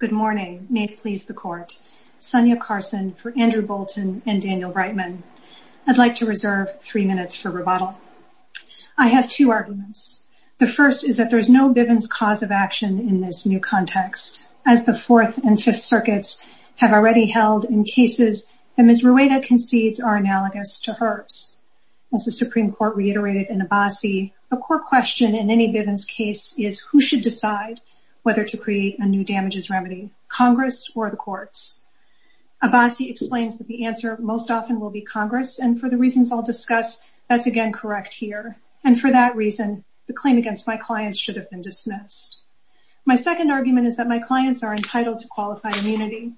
Good morning. May it please the court. Sonia Carson for Andrew Bolton and Daniel Breitman. I'd like to reserve three minutes for rebuttal. I have two arguments. The first is that there's no Bivens cause of action in this new context. As the Fourth and Fifth Circuits have already held in cases that Ms. Rueda concedes are analogous to hers. As the Supreme Court reiterated in Abbasi, the core question in any Bivens case is who should decide whether to create a new damages remedy, Congress or the courts. Abbasi explains that the answer most often will be Congress and for the reasons I'll discuss, that's again correct here. And for that reason, the claim against my clients should have been dismissed. My second argument is that my clients are entitled to qualify immunity.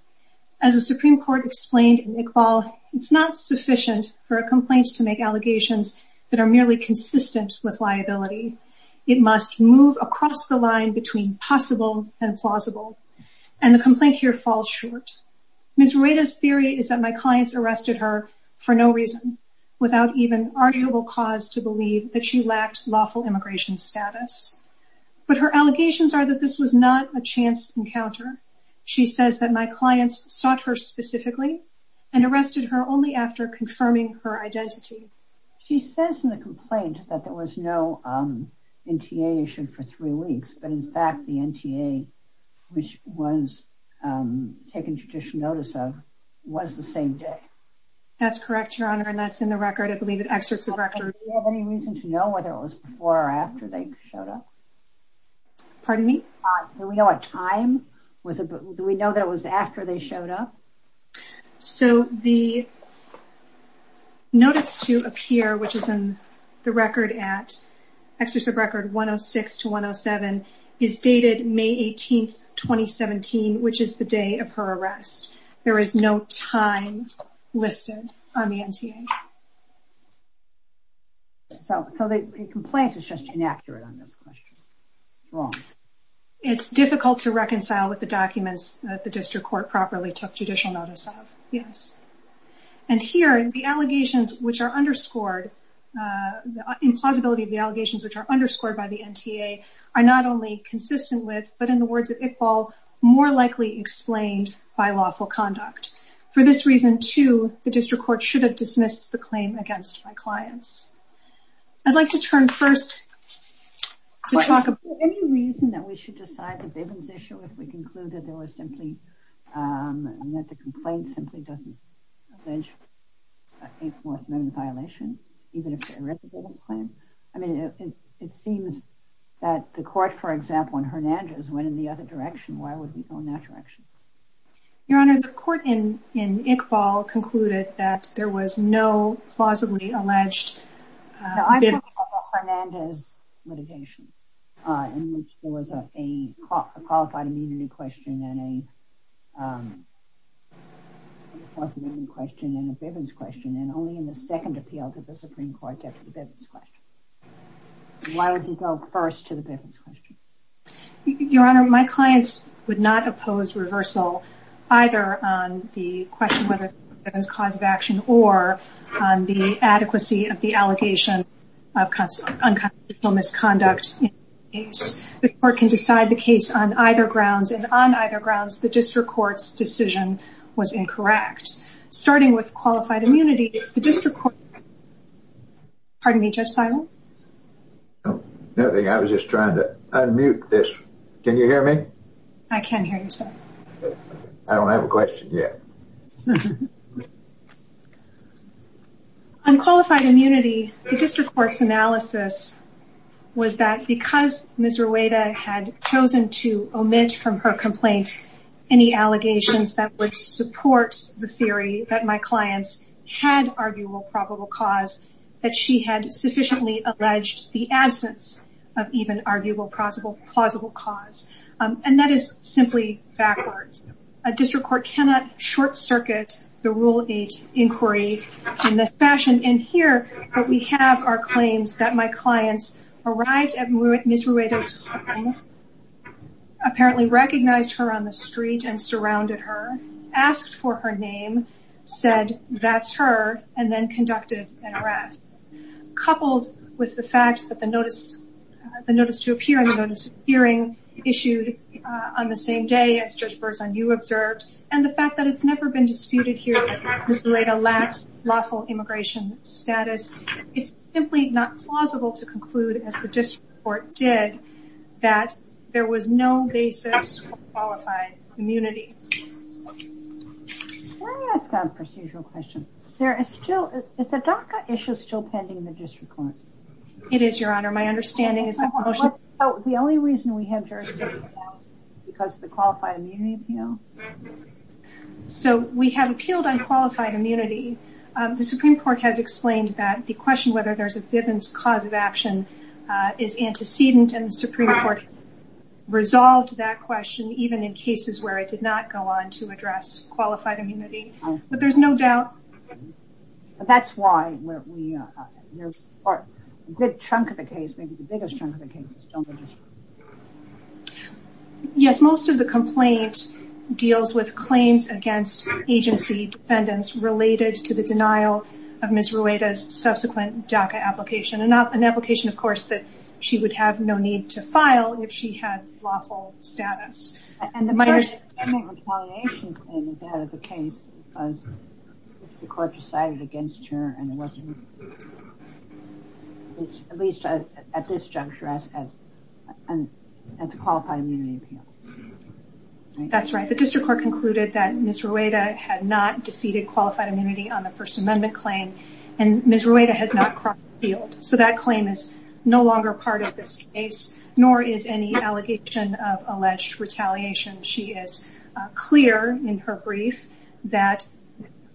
As the Supreme Court explained in Iqbal, it's not sufficient for a complaint to make allegations that are merely consistent with liability. It must move across the line between possible and plausible. And the complaint here falls short. Ms. Rueda's theory is that my clients arrested her for no reason, without even arguable cause to believe that she lacked lawful immigration status. But her allegations are that this was not a chance encounter. She says that my clients sought her specifically and arrested her only after confirming her identity. She says in the complaint that there was no NTA issued for three weeks, but in fact the NTA, which was taken judicial notice of, was the same day. That's correct, Your Honor, and that's in the record. I believe it excerpts the record. Do you have any reason to know whether it was before or after they showed up? Pardon me? Do we know a time? Do we know that it was after they showed up? So the notice to appear, which is in the record at Excerpt of Record 106-107, is dated May 18, 2017, which is the day of her arrest. There is no time listed on the NTA. So the complaint is just inaccurate on this question? Wrong. It's difficult to reconcile with the documents that the district court properly took judicial notice of, yes. And here, the allegations which are underscored, in plausibility of the allegations which are underscored by the NTA, are not only consistent with, but in the words of Iqbal, more likely explained by lawful conduct. For this reason, too, the district court should have dismissed the claim against my clients. I'd like to turn first to talk about... Is there any reason that we should decide the Bivens issue if we conclude that there was simply, that the complaint simply doesn't allege a fourth amendment violation, even if they're irrefutable? I mean, it seems that the court, for example, in Hernandez, went in the other direction. Why would we go in that direction? Your Honor, the court in Iqbal concluded that there was no plausibly alleged... I'm talking about Hernandez litigation, in which there was a qualified immunity question and a plausibility question and a Bivens question, and only in the second appeal to the Supreme Court, there was a Bivens question. Why would we go first to the Bivens question? Your Honor, my clients would not oppose reversal, either on the question whether it was a cause of action or on the adequacy of the allegation of unconstitutional misconduct. The court can decide the case on either grounds, and on either grounds, the district court's decision was incorrect. Starting with qualified immunity, the district court... Pardon me, Judge Seibel? Nothing, I was just trying to unmute this. Can you hear me? I can hear you, sir. I don't have a question yet. On qualified immunity, the district court's analysis was that because Ms. Rueda had chosen to omit from her complaint any allegations that would support the theory that my clients had arguable probable cause, that she had sufficiently alleged the absence of even arguable plausible cause. And that is simply backwards. A district court cannot short circuit the Rule 8 inquiry in this fashion. And here, what we have are claims that my clients arrived at Ms. Rueda's home, apparently recognized her on the street and surrounded her, asked for her name, said, that's her, and then conducted an arrest. Coupled with the fact that the notice to appear and the notice of hearing issued on the same day, as Judge Berzon, you observed, and the fact that it's never been disputed here that Ms. Rueda lacks lawful immigration status, it's simply not plausible to conclude, as the district court did, that there was no basis for qualified immunity. I have a procedural question. Is the DACA issue still pending in the district court? It is, Your Honor. My understanding is that the only reason we have jurisdiction is because of the qualified immunity appeal. So we have appealed on qualified immunity. The Supreme Court has explained that the question whether there's a Bivens cause of action is antecedent, and the Supreme Court resolved that question, even in cases where it did not go on to address qualified immunity. But there's no doubt. That's why a good chunk of the case, maybe the biggest chunk of the case, is still in the district. Yes, most of the complaint deals with claims against agency defendants related to the denial of Ms. Rueda's subsequent DACA application. An application, of course, that she would have no to file if she had lawful status. And the first complaint is that of the case because the court decided against her and it wasn't at least at this juncture, as a qualified immunity appeal. That's right. The district court concluded that Ms. Rueda had not defeated qualified immunity on the First Amendment claim, and Ms. Rueda has not crossed the field. So that claim is no longer part of this case, nor is any allegation of alleged retaliation. She is clear in her brief that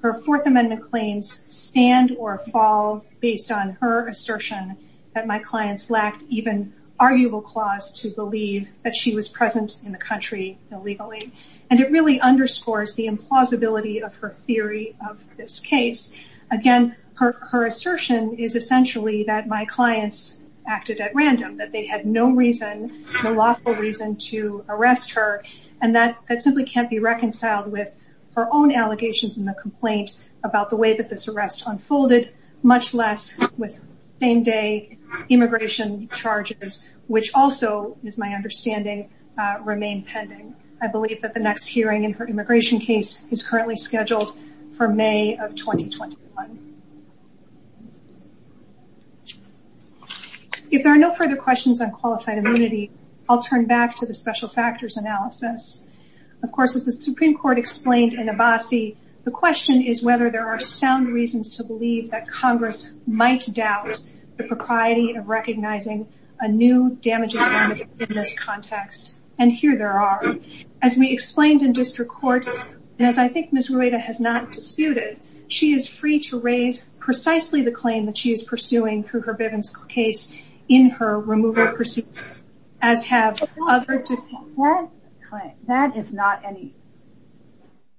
her Fourth Amendment claims stand or fall based on her assertion that my clients lacked even arguable clause to believe that she was present in the country illegally. And it really underscores the implausibility of her theory of this case. Again, her assertion is essentially that my clients acted at random, that they had no reason, no lawful reason to arrest her. And that simply can't be reconciled with her own allegations in the complaint about the way that this arrest unfolded, much less with same-day immigration charges, which also, is my understanding, remain pending. I believe that the next hearing in her immigration case is currently scheduled for May of 2021. If there are no further questions on qualified immunity, I'll turn back to the special factors analysis. Of course, as the Supreme Court explained in Abbasi, the question is whether there are sound reasons to believe that Congress might doubt the propriety of recognizing a new damages bond in this context. And here there are. As we explained in district court, and as I think Ms. Rueda has not disputed, she is free to raise precisely the claim that she is pursuing through her Bivens case in her removal proceedings, as have other defendants. That is not in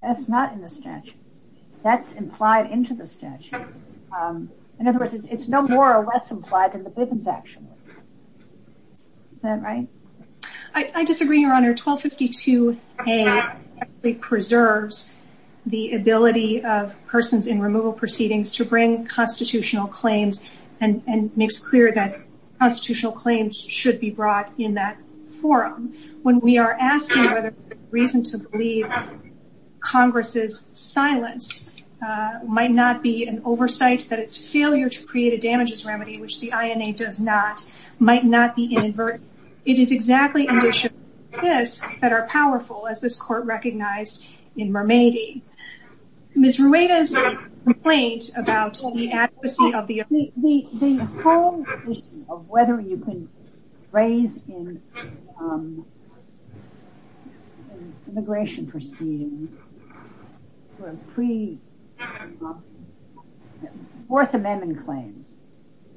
the statute. That's implied into the statute. In other words, it's no more or less implied than the Bivens action. Is that right? I disagree, Your Honor. 1252A actually preserves the ability of persons in removal proceedings to bring constitutional claims and makes clear that constitutional claims should be brought in that forum. When we are asking whether there's a reason to believe Congress's silence might not be an oversight, that it's failure to create a damages remedy, which the INA does not, might not be inadvertent. It is exactly in addition to this that are powerful, as this court recognized in Mermady. Ms. Rueda's complaint about the adequacy of the... The whole issue of whether you can raise in immigration proceedings for pre-Fourth Amendment claims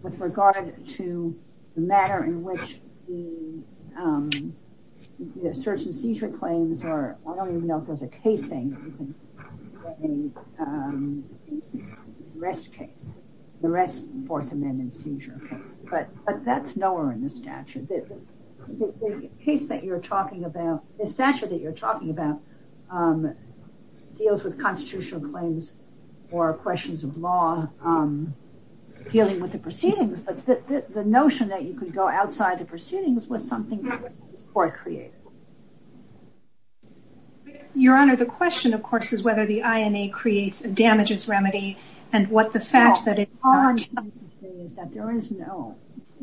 with regard to the matter in which the search and seizure claims are, I don't even know if there's a case saying you can raise the arrest case, the arrest Fourth Amendment seizure case, but that's nowhere in the statute. The case that you're talking about, the statute that you're talking about deals with constitutional claims or questions of law dealing with the proceedings, but the notion that you could go outside the proceedings was something that this court created. Your Honor, the question, of course, is whether the INA creates a damages remedy and what the fact that it...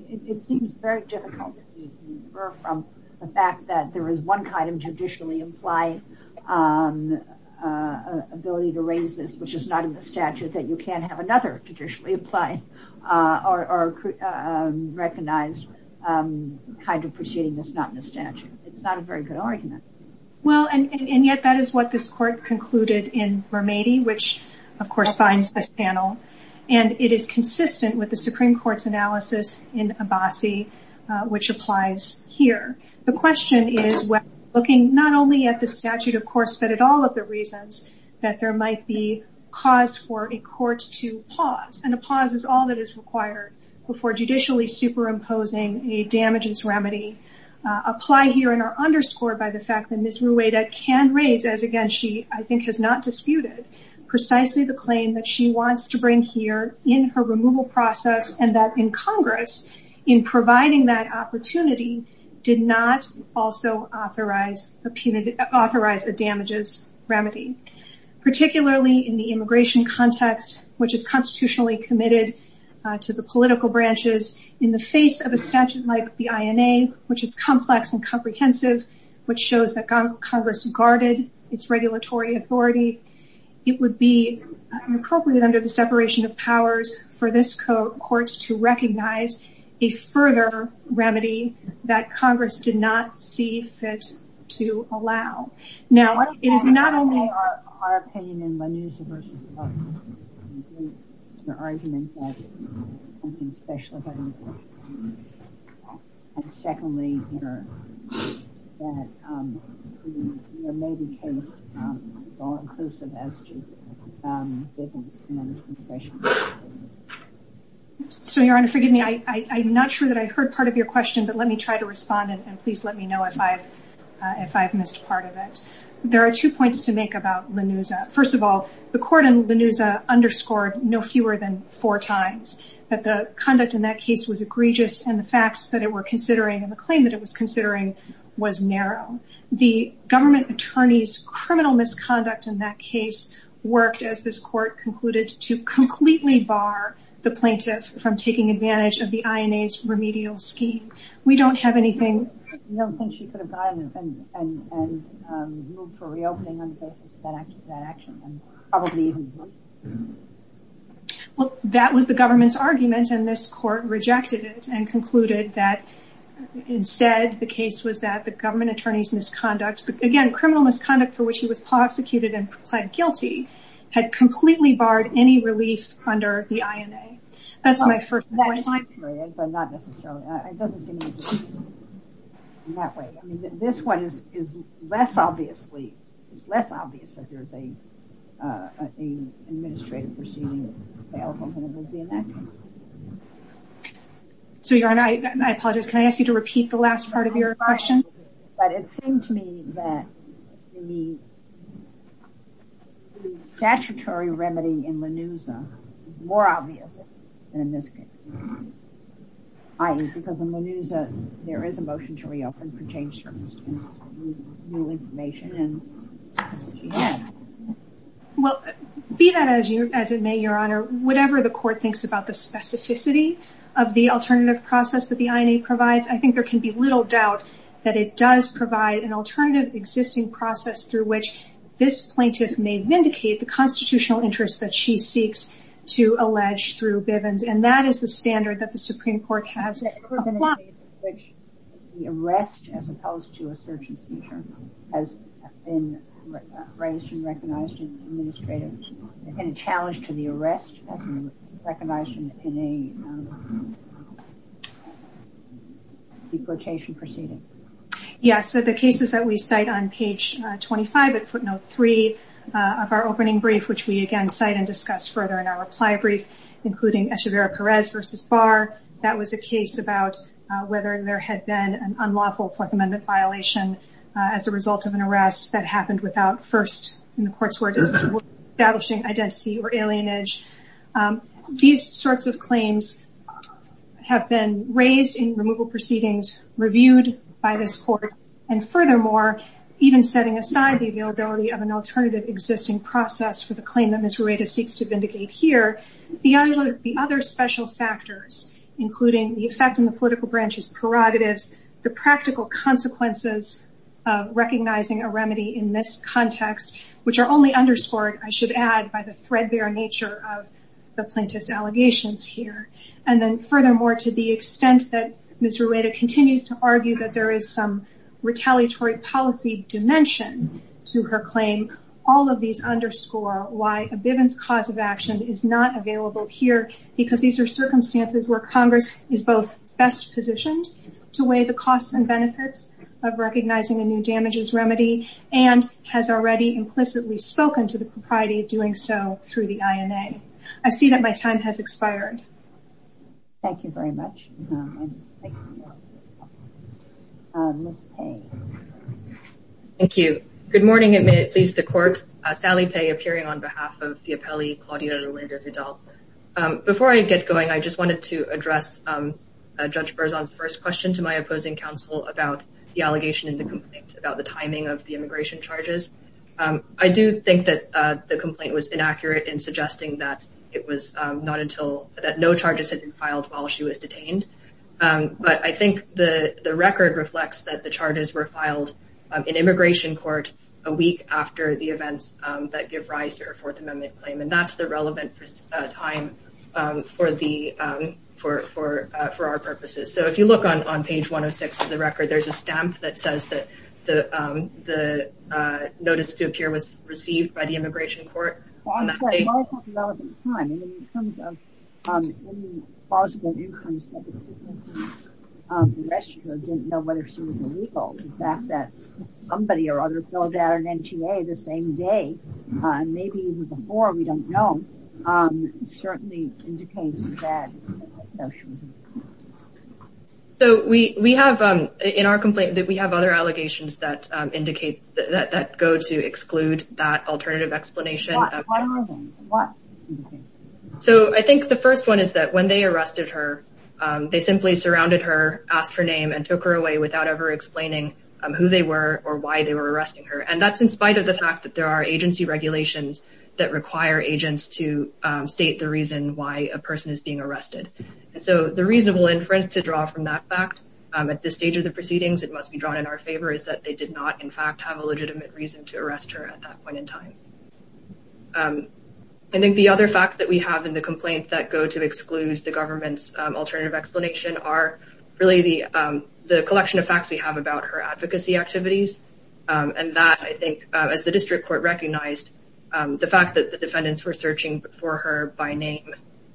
It seems very difficult to infer from the fact that there is one kind of judicially implied ability to raise this, which is not in the statute, that you can't have another judicially implied or recognized kind of proceeding that's not in the statute. It's not a very good argument. Well, and yet that is what this court concluded in Mermady, which of course binds this panel, and it is consistent with the Supreme Court's analysis in Abbasi, which applies here. The question is, when looking not only at the statute, of course, but at all of the reasons that there might be cause for a court to pause, and a pause is all that is required before judicially superimposing a damages remedy, apply here and are underscored by the fact that Ms. Rueda can raise, as again she I think has not disputed, precisely the claim that she wants to provide that opportunity did not also authorize a damages remedy, particularly in the immigration context, which is constitutionally committed to the political branches in the face of a statute like the INA, which is complex and comprehensive, which shows that Congress guarded its regulatory authority. It would be inappropriate under the separation of powers for this court to recognize a further remedy that Congress did not see fit to allow. Now, it is not only... ...argument that... ...secondly... So, Your Honor, forgive me. I'm not sure that I heard part of your question, but let me try to respond, and please let me know if I've missed part of it. There are two points to make about the court in Lenuza underscored no fewer than four times, that the conduct in that case was egregious and the facts that it were considering and the claim that it was considering was narrow. The government attorney's criminal misconduct in that case worked, as this court concluded, to completely bar the plaintiff from taking advantage of the INA's remedial scheme. We don't have anything... Well, that was the government's argument, and this court rejected it and concluded that instead the case was that the government attorney's misconduct, again, criminal misconduct for which he was prosecuted and pled guilty, had completely barred any relief under the INA. That's my first point. My period, but not necessarily. It doesn't seem in that way. I mean, this one is less obviously, it's less obvious that there's a administrative proceeding. So, Your Honor, I apologize. Can I ask you to repeat the last part of your question? But it seemed to me that the statutory remedy in Lenuza is more obvious than in this case. I mean, because in Lenuza, there is a motion to reopen for change service. Well, be that as it may, Your Honor, whatever the court thinks about the specificity of the alternative process that the INA provides, I think there can be little doubt that it does provide an alternative existing process through which this plaintiff may vindicate the constitutional interest that she seeks to allege through Bivens. And that is the standard that the Supreme Court has. Has there ever been a case in which the arrest, as opposed to a search and seizure, has been raised and recognized as an administrative challenge to the arrest as recognized in a deportation proceeding? Yes, so the cases that we cite on page 25 at footnote 3 of our opening brief, which we again cite and discuss further in our reply brief, including Echeverria-Perez versus Barr, that was a case about whether there had been an unlawful Fourth Amendment violation as a result of an arrest that happened without first in the court's word establishing identity or alienage. These sorts of claims have been raised in removal proceedings reviewed by this court, and furthermore, even setting aside the availability of an alternative existing process for the claim that Ms. Rueda seeks to vindicate here, the other special factors, including the effect on the political branch's prerogatives, the practical consequences of recognizing a remedy in this context, which are only underscored, I should add, by the threadbare nature of the plaintiff's allegations here. And then furthermore, to the extent that Ms. Rueda continues to argue that there is some underscore why a Bivens cause of action is not available here, because these are circumstances where Congress is both best positioned to weigh the costs and benefits of recognizing a new damages remedy, and has already implicitly spoken to the propriety of doing so through the INA. I see that my time has expired. Thank you very much. Thank you. Ms. Pei. Thank you. Good morning, at least the court. Sally Pei appearing on behalf of Theopeli Claudia Rueda Vidal. Before I get going, I just wanted to address Judge Berzon's first question to my opposing counsel about the allegation in the complaint about the timing of the immigration charges. I do think that the complaint was inaccurate in suggesting that not until that no charges had been filed while she was detained. But I think the record reflects that the charges were filed in immigration court a week after the events that give rise to her Fourth Amendment claim. And that's the relevant time for our purposes. So if you look on page 106 of the record, there's a stamp that says that the notice to appear was received by the In terms of any possible incomes, the rest of her didn't know whether she was illegal. The fact that somebody or others filled out an NTA the same day, maybe even before we don't know, certainly indicates that. So we have in our complaint that we have other allegations that indicate that go to exclude that alternative explanation. So I think the first one is that when they arrested her, they simply surrounded her, asked her name and took her away without ever explaining who they were or why they were arresting her. And that's in spite of the fact that there are agency regulations that require agents to state the reason why a person is being arrested. And so the reasonable inference to draw from that fact at this stage of the proceedings, it must be drawn in our favor, is that they did in fact have a legitimate reason to arrest her at that point in time. I think the other facts that we have in the complaint that go to exclude the government's alternative explanation are really the collection of facts we have about her advocacy activities. And that, I think, as the district court recognized, the fact that the defendants were searching for her by name,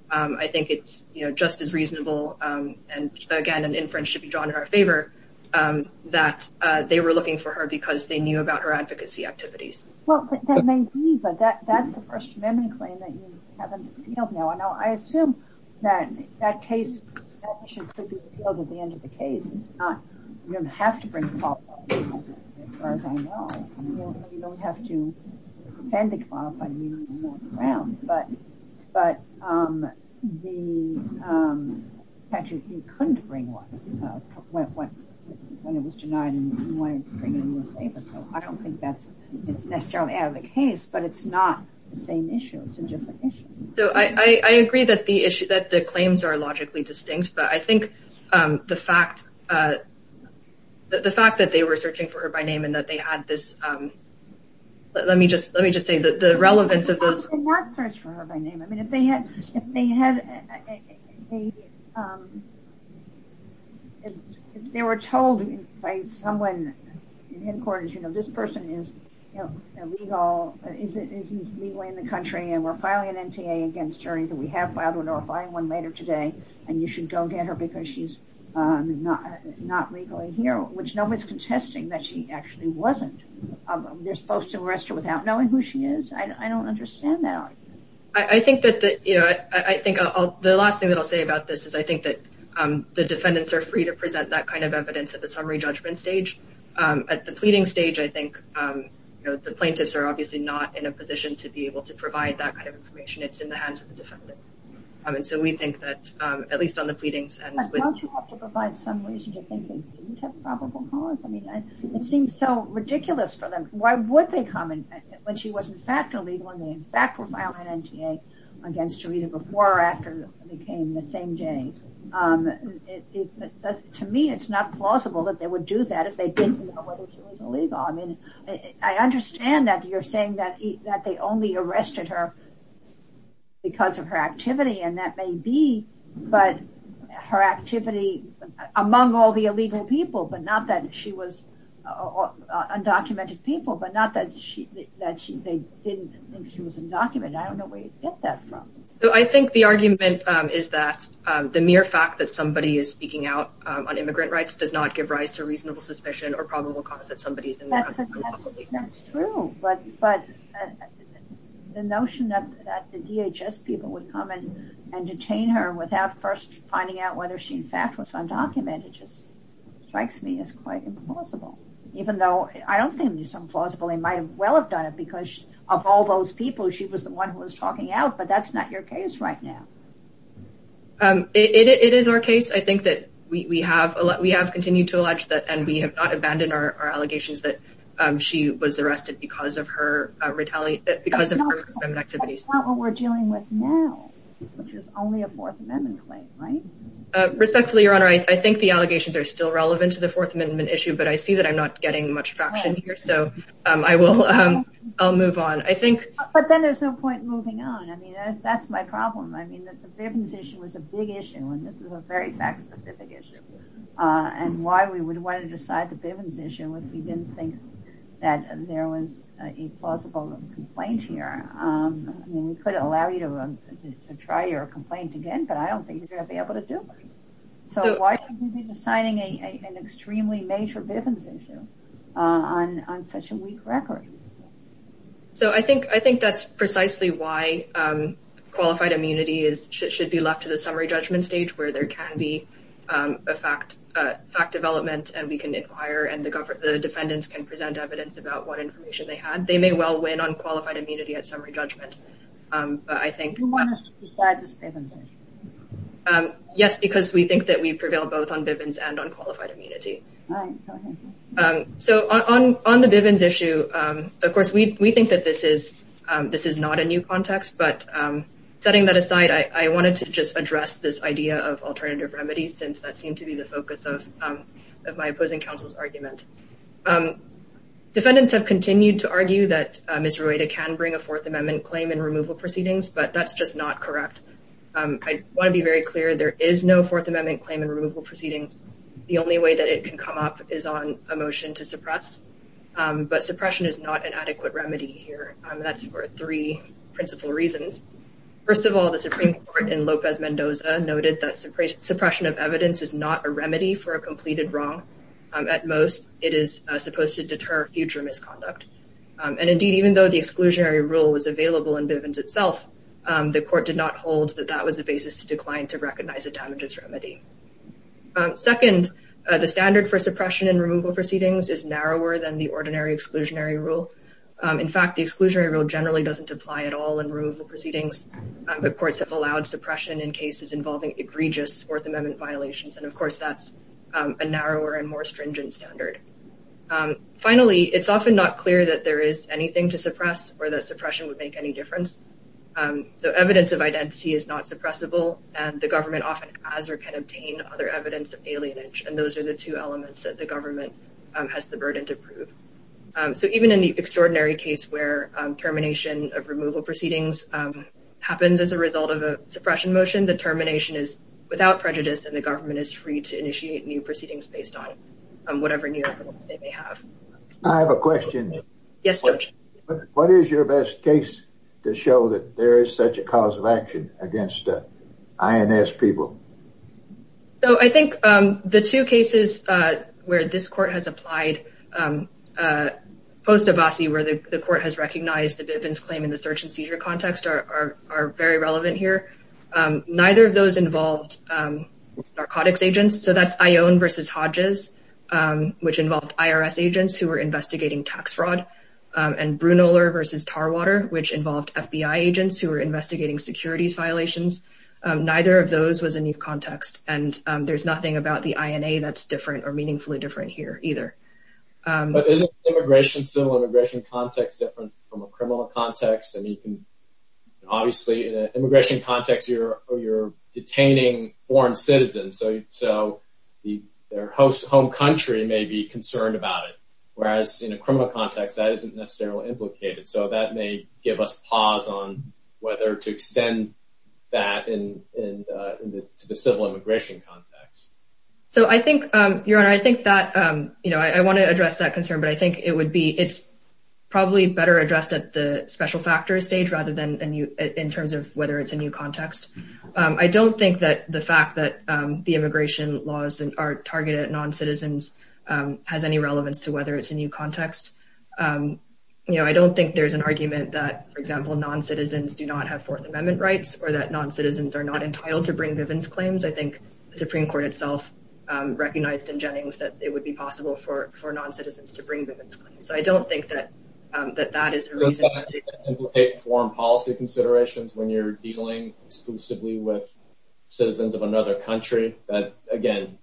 I think it's just as reasonable. And again, an inference should be drawn in our favor that they were looking for her because they knew about her advocacy activities. Well, that may be, but that's the First Amendment claim that you have in the field now. And I assume that that case, that issue could be appealed at the end of the case. It's not, you don't have to bring qualified people in as far as I know. You don't have to when it was denied. So I don't think that's necessarily out of the case, but it's not the same issue. It's a different issue. So I agree that the claims are logically distinct, but I think the fact that they were searching for her by name and that they had this, let me just say that the relevance of those... I mean, if they were told by someone in headquarters, you know, this person is legally in the country and we're filing an NTA against her, either we have filed one or we're filing one later today, and you should go get her because she's not legally here, which no one's contesting that she actually wasn't. They're supposed to arrest her without knowing who she is. I don't understand that. I think that, you know, I think the last thing that I'll say about this is I think that the defendants are free to present that kind of evidence at the summary judgment stage. At the pleading stage, I think, you know, the plaintiffs are obviously not in a position to be able to provide that kind of information. It's in the hands of the defendant. And so we think that at least on the pleadings... But don't you have to provide some reason to think they didn't have probable cause? I mean, it seems so ridiculous for them. Why would they come in when she was in fact illegal and they in fact were filing an NTA against her either before or after they came the same day. To me, it's not plausible that they would do that if they didn't know whether she was illegal. I mean, I understand that you're saying that they only arrested her because of her activity and that may be, but her activity among all the illegal people, but not that she was undocumented people, but not that she, that they didn't think she was undocumented. I don't know where you get that from. So I think the argument is that the mere fact that somebody is speaking out on immigrant rights does not give rise to reasonable suspicion or probable cause that somebody is in there. That's true. But the notion that the DHS people would come in and detain her without first finding out whether she in fact was undocumented just strikes me as quite implausible, even though I don't think it's implausible. They might well have done it because of all those people, she was the one who was talking out, but that's not your case right now. It is our case. I think that we have continued to allege that and we have not abandoned our allegations that she was arrested because of her activities. That's not what we're dealing with now, which is only a fourth amendment claim, right? Respectfully, your honor, I think the allegations are still relevant to the fourth amendment issue, but I see that I'm not getting much traction here. So I will, I'll move on. I think. But then there's no point moving on. I mean, that's my problem. I mean, that the Bivens issue was a big issue and this is a very fact specific issue and why we would want to decide the Bivens issue if we didn't think that there was a plausible complaint here. I mean, we could allow you to try your complaint again, but I don't think you're going to be able to do it. So why should we be deciding an extremely major Bivens issue on such a weak record? So I think, I think that's precisely why qualified immunity is, should be left to the summary judgment stage where there can be a fact, fact development, and we can inquire and the government, the defendants can present evidence about what qualified immunity at summary judgment. But I think, yes, because we think that we prevail both on Bivens and on qualified immunity. So on, on the Bivens issue, of course we, we think that this is, this is not a new context, but setting that aside, I wanted to just address this idea of alternative remedies since that seemed to be the focus of, of my opposing counsel's argument. Defendants have continued to argue that Misroita can bring a fourth amendment claim in removal proceedings, but that's just not correct. I want to be very clear, there is no fourth amendment claim in removal proceedings. The only way that it can come up is on a motion to suppress, but suppression is not an adequate remedy here. That's for three principal reasons. First of all, the Supreme Court in Lopez Mendoza noted that suppression of evidence is not a remedy for a completed wrong. At most, it is supposed to deter future misconduct. And indeed, even though the exclusionary rule was available in Bivens itself, the court did not hold that that was a basis to decline to recognize a damages remedy. Second, the standard for suppression in removal proceedings is narrower than the ordinary exclusionary rule. In fact, the exclusionary rule generally doesn't apply at all in removal violations. And of course, that's a narrower and more stringent standard. Finally, it's often not clear that there is anything to suppress or that suppression would make any difference. So evidence of identity is not suppressible, and the government often has or can obtain other evidence of alienage. And those are the two elements that the government has the burden to prove. So even in the extraordinary case where termination of removal and the government is free to initiate new proceedings based on whatever new evidence they may have. I have a question. Yes. What is your best case to show that there is such a cause of action against the INS people? So I think the two cases where this court has applied post-Abbasi where the court has recognized the Bivens claim in the search and seizure context are very relevant here. Neither of those involved narcotics agents. So that's Ione versus Hodges, which involved IRS agents who were investigating tax fraud. And Brunoler versus Tarwater, which involved FBI agents who were investigating securities violations. Neither of those was a new context. And there's nothing about the INA that's different or meaningfully different here either. But isn't immigration, civil immigration context different from a criminal context? I mean, obviously, in an immigration context, you're detaining foreign citizens. So their host home country may be concerned about it. Whereas in a criminal context, that isn't necessarily implicated. So that may give us pause on whether to extend that to the civil immigration context. So I think, Your Honor, I want to address that at the special factors stage rather than in terms of whether it's a new context. I don't think that the fact that the immigration laws are targeted at non-citizens has any relevance to whether it's a new context. You know, I don't think there's an argument that, for example, non-citizens do not have Fourth Amendment rights or that non-citizens are not entitled to bring Bivens claims. I think the Supreme Court itself recognized in Jennings that it would be possible for non-citizens to bring Bivens claims. So I don't think that that is a reason to take foreign policy considerations when you're dealing exclusively with citizens of another country. But again,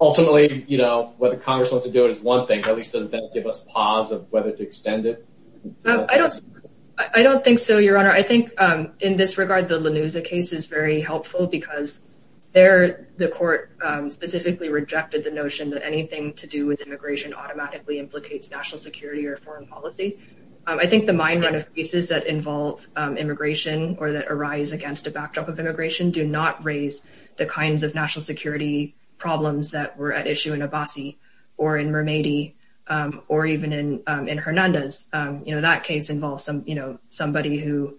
ultimately, you know, what the Congress wants to do is one thing, at least doesn't give us pause of whether to extend it. I don't think so, Your Honor. I think in this regard, the Lanuza case is very helpful because the court specifically rejected the notion that anything to do with immigration automatically implicates national security or foreign policy. I think the mine run of cases that involve immigration or that arise against a backdrop of immigration do not raise the kinds of national security problems that were at issue in Abassi or in Mermady or even in Hernandez. You know, that case involves some, you know, somebody who,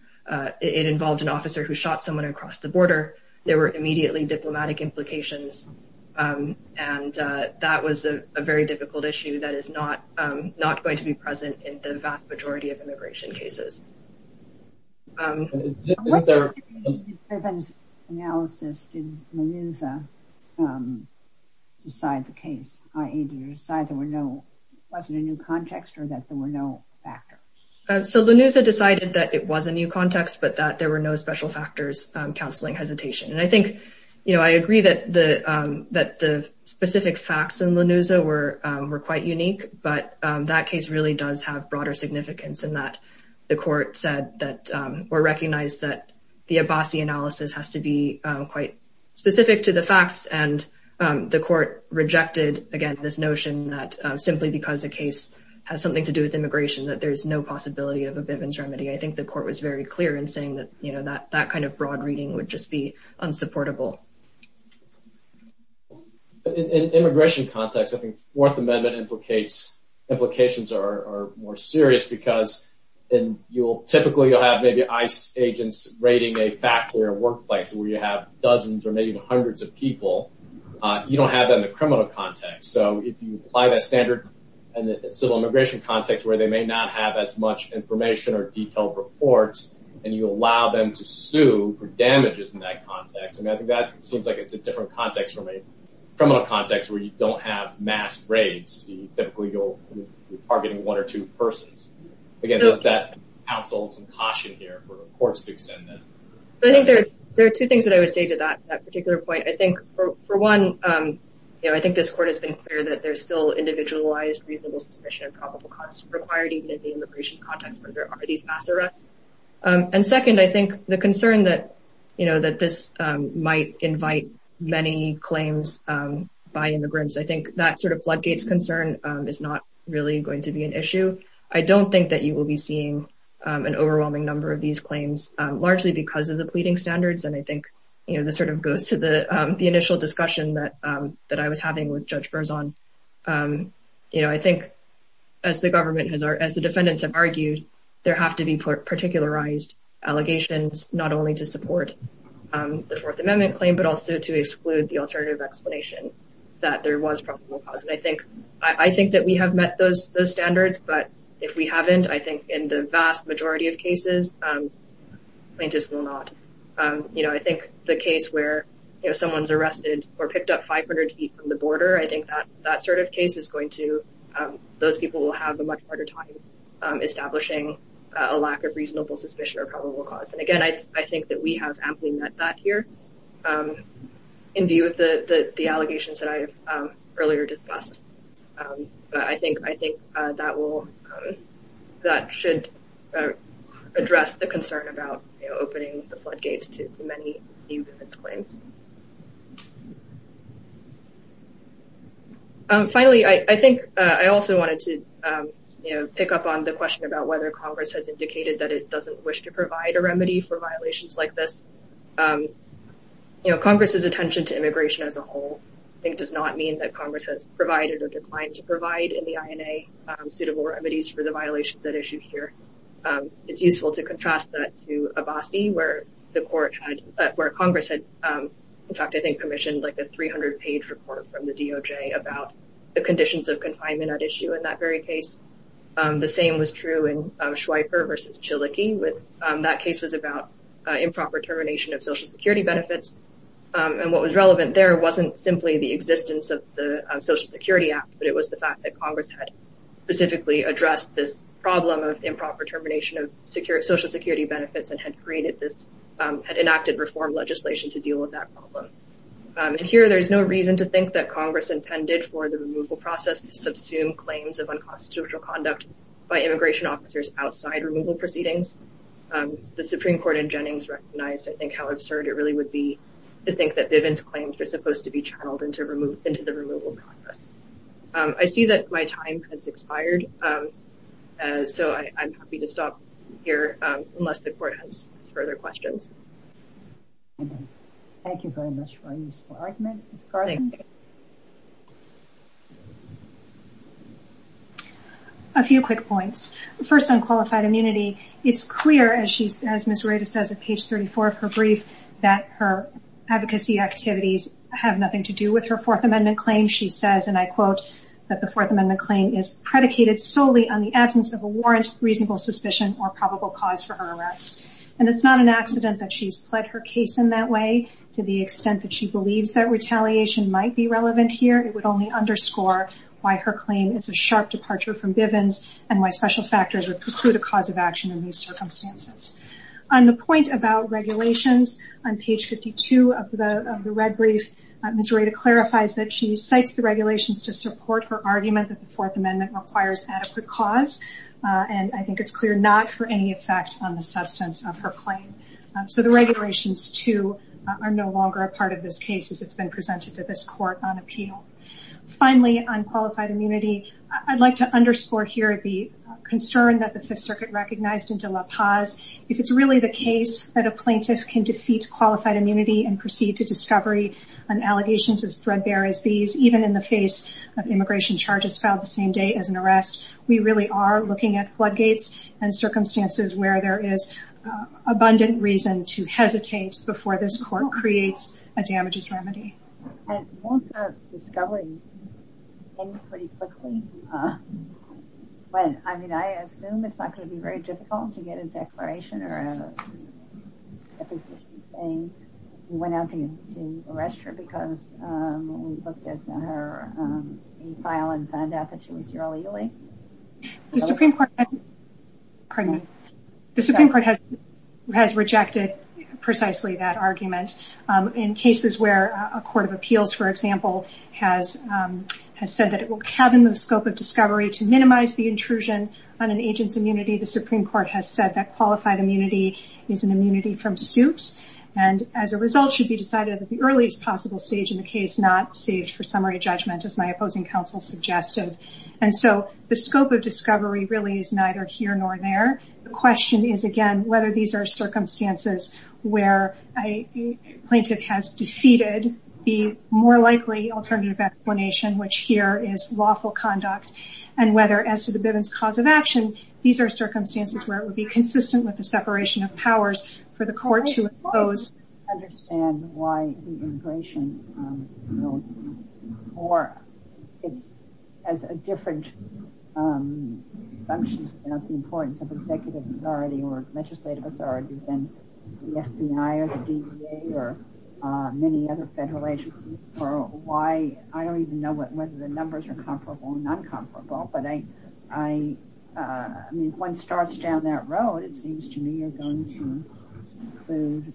it involved an officer who shot someone across the border. There were immediately diplomatic implications. And that was a very difficult issue that is not, not going to be present in the vast majority of immigration cases. In Bivens' analysis, did Lanuza decide the case, i.e. decide there were no, wasn't a new context or that there were no factors? So Lanuza decided that it was a new context, but that there were no special factors counseling hesitation. And I think, you know, I agree that the specific facts in Lanuza were quite unique, but that case really does have broader significance in that the court said that, or recognized that the Abassi analysis has to be quite specific to the facts. And the court rejected, again, this notion that simply because a case has something to do with immigration, that there's no possibility of a Bivens remedy. I think the court was very clear in saying that, you know, that kind of broad reading would just be unsupportable. In an immigration context, I think Fourth Amendment implicates, implications are more serious because, and you'll typically, you'll have maybe ICE agents raiding a factory or workplace where you have dozens or maybe even hundreds of people. You don't have that in the criminal context. So if you apply that standard in the civil immigration context, where they may not have as much information or detailed reports, and you allow them to sue for damages in that criminal context where you don't have mass raids, typically you'll be targeting one or two persons. Again, does that counsel some caution here for the courts to extend that? I think there are two things that I would say to that particular point. I think for one, you know, I think this court has been clear that there's still individualized reasonable suspicion of probable cause required even in the immigration context where there are these mass arrests. And second, I think the concern that, you know, that this might invite many claims by immigrants, I think that sort of floodgates concern is not really going to be an issue. I don't think that you will be seeing an overwhelming number of these claims largely because of the pleading standards. And I think, you know, this sort of goes to the initial discussion that I was having with Judge Berzon. You know, I think as the government has, as the defendants have argued, there have to be particularized allegations not only to support the Fourth Amendment claim, but also to exclude the alternative explanation that there was probable cause. And I think that we have met those standards, but if we haven't, I think in the vast majority of cases, plaintiffs will not. You know, I think the case where, you know, someone's arrested or picked up 500 feet from the border, I think that sort of case is going to, those people will have a much harder time establishing a lack of reasonable suspicion or probable cause. And again, I think that we have amply met that here in view of the allegations that I have earlier discussed. But I think that will, that should address the concern about opening the floodgates to many new defendants' claims. Finally, I think I also wanted to, you know, pick up on the question about whether Congress has indicated that it doesn't wish to provide a remedy for violations like this. You know, Congress's attention to immigration as a whole, I think, does not mean that Congress has provided or declined to provide in the INA suitable remedies for the violations at issue here. It's useful to contrast that to Abbasi, where the court had, where Congress had, in fact, I think, commissioned like a 300-page report from the DOJ about the conditions of confinement at issue in that very case. The same was true in Schweifer versus Chiliki, with that case was about improper termination of Social Security benefits. And what was relevant there wasn't simply the existence of the Social Security Act, but it was the fact that Congress had specifically addressed this problem of improper termination of Social Security benefits and had created this, had enacted reform legislation to deal with that problem. And here there's no reason to think that Congress intended for the removal process to subsume claims of unconstitutional conduct by immigration officers outside removal proceedings. The Supreme Court in Jennings recognized, I think, how absurd it really would be to think that Bivens' claims were supposed to be channeled into the removal process. I see that my time has expired, so I'm happy to stop here unless the court has further questions. Thank you very much for your useful argument. A few quick points. First, on qualified immunity, it's clear, as Ms. Rueda says at page 34 of her Fourth Amendment claim, she says, and I quote, that the Fourth Amendment claim is predicated solely on the absence of a warrant, reasonable suspicion, or probable cause for her arrest. And it's not an accident that she's pled her case in that way. To the extent that she believes that retaliation might be relevant here, it would only underscore why her claim is a sharp departure from Bivens and why special factors would preclude a cause of action in these circumstances. On the point about regulations, on page 52 of the red brief, Ms. Rueda clarifies that she cites the regulations to support her argument that the Fourth Amendment requires adequate cause, and I think it's clear not for any effect on the substance of her claim. So the regulations, too, are no longer a part of this case as it's been presented to this court on appeal. Finally, on qualified immunity, I'd like to underscore here the concern that the Fifth Amendment has with this case. If it's really the case that a plaintiff can defeat qualified immunity and proceed to discovery on allegations as threadbare as these, even in the face of immigration charges filed the same day as an arrest, we really are looking at floodgates and circumstances where there is abundant reason to hesitate before this court creates a damages remedy. And won't the discovery end pretty quickly? I mean, I assume it's not going to be very difficult to get a declaration or a petition saying you went out to arrest her because we looked at her file and found out that she was here illegally? The Supreme Court has rejected precisely that argument. In cases where a court of appeals, for example, has said that it will to minimize the intrusion on an agent's immunity, the Supreme Court has said that qualified immunity is an immunity from suit. And as a result, it should be decided at the earliest possible stage in the case, not saved for summary judgment, as my opposing counsel suggested. And so the scope of discovery really is neither here nor there. The question is, again, whether these are circumstances where a plaintiff has defeated the more likely alternative explanation, which here is lawful conduct, and whether, as to the Bivens cause of action, these are circumstances where it would be consistent with the separation of powers for the court to oppose. I don't quite understand why the immigration bill, or as a different function of the importance of executive authority or legislative authority than the FBI or the DEA or many other federal agencies. I don't even know whether the numbers are comparable or non-comparable. But if one starts down that road, it seems to me you're going to include...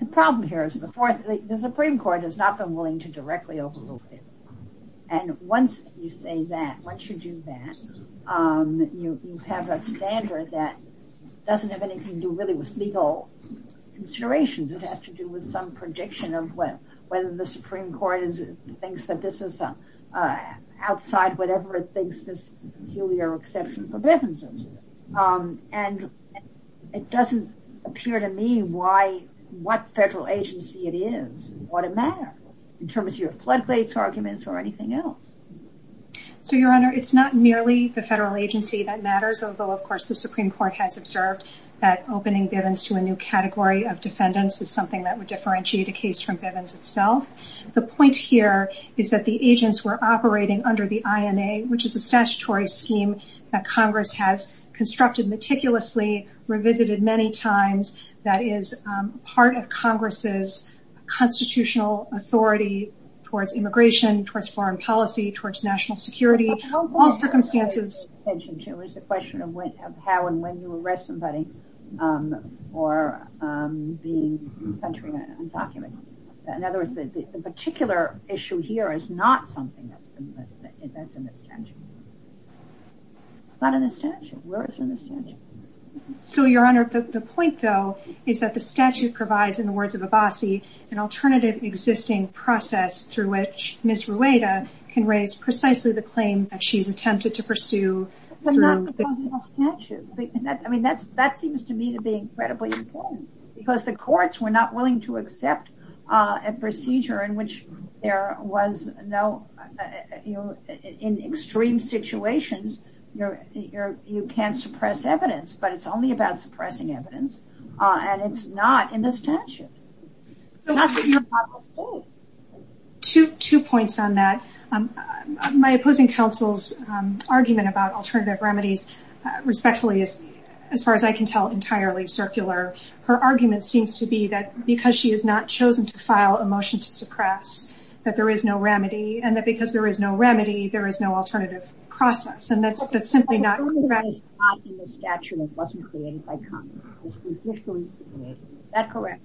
The problem here is the Supreme Court has not been willing to directly overrule it. And once you say that, once you do that, you have a standard that doesn't have anything to do with legal considerations. It has to do with some prediction of whether the Supreme Court thinks that this is outside whatever it thinks this peculiar exception for Bivens is. And it doesn't appear to me what federal agency it is and what it matters, in terms of your floodgates arguments or anything else. So, Your Honor, it's not merely the federal agency that Bivens to a new category of defendants is something that would differentiate a case from Bivens itself. The point here is that the agents were operating under the INA, which is a statutory scheme that Congress has constructed meticulously, revisited many times, that is part of Congress's constitutional authority towards immigration, towards foreign policy, towards national security, all circumstances. It's a question of how and when you arrest somebody for being country undocumented. In other words, the particular issue here is not something that's in the statute. It's not in the statute. Where is it in the statute? So, Your Honor, the point, though, is that the statute provides, in the words of Abbasi, an alternative existing process through which Ms. Rueda can raise precisely the claim that she's attempted to pursue. But not because of the statute. I mean, that seems to me to be incredibly important, because the courts were not willing to accept a procedure in which there was no, you know, in extreme situations, you can't suppress evidence, but it's only about suppressing evidence, and it's not in the statute. Two points on that. My opposing counsel's argument about alternative remedies, respectfully, is, as far as I can tell, entirely circular. Her argument seems to be that because she has not chosen to file a motion to suppress, that there is no remedy, and that because there is no remedy, there is no alternative process, and that's simply not correct. It's not in the statute, and it wasn't created by Congress. It was judicially created. Is that correct?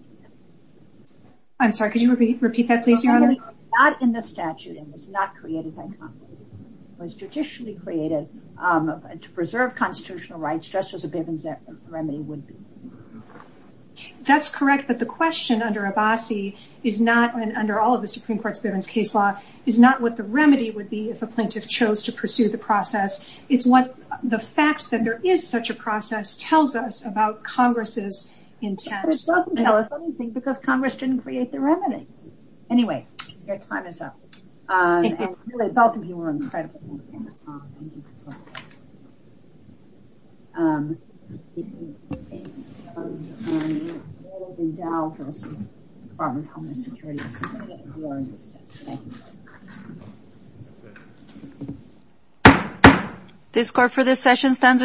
I'm sorry, could you repeat that, please, Your Honor? It's not in the statute, and it was not created by Congress. It was judicially created to preserve constitutional rights, just as a Bivens remedy would be. That's correct, but the question under Abbasi is not, and under all of the Supreme Court, whether or not the plaintiff chose to pursue the process. It's what the fact that there is such a process tells us about Congress's intent. It doesn't tell us anything because Congress didn't create the remedy. Anyway, your time is up. Both of you were incredible. The score for this session stands.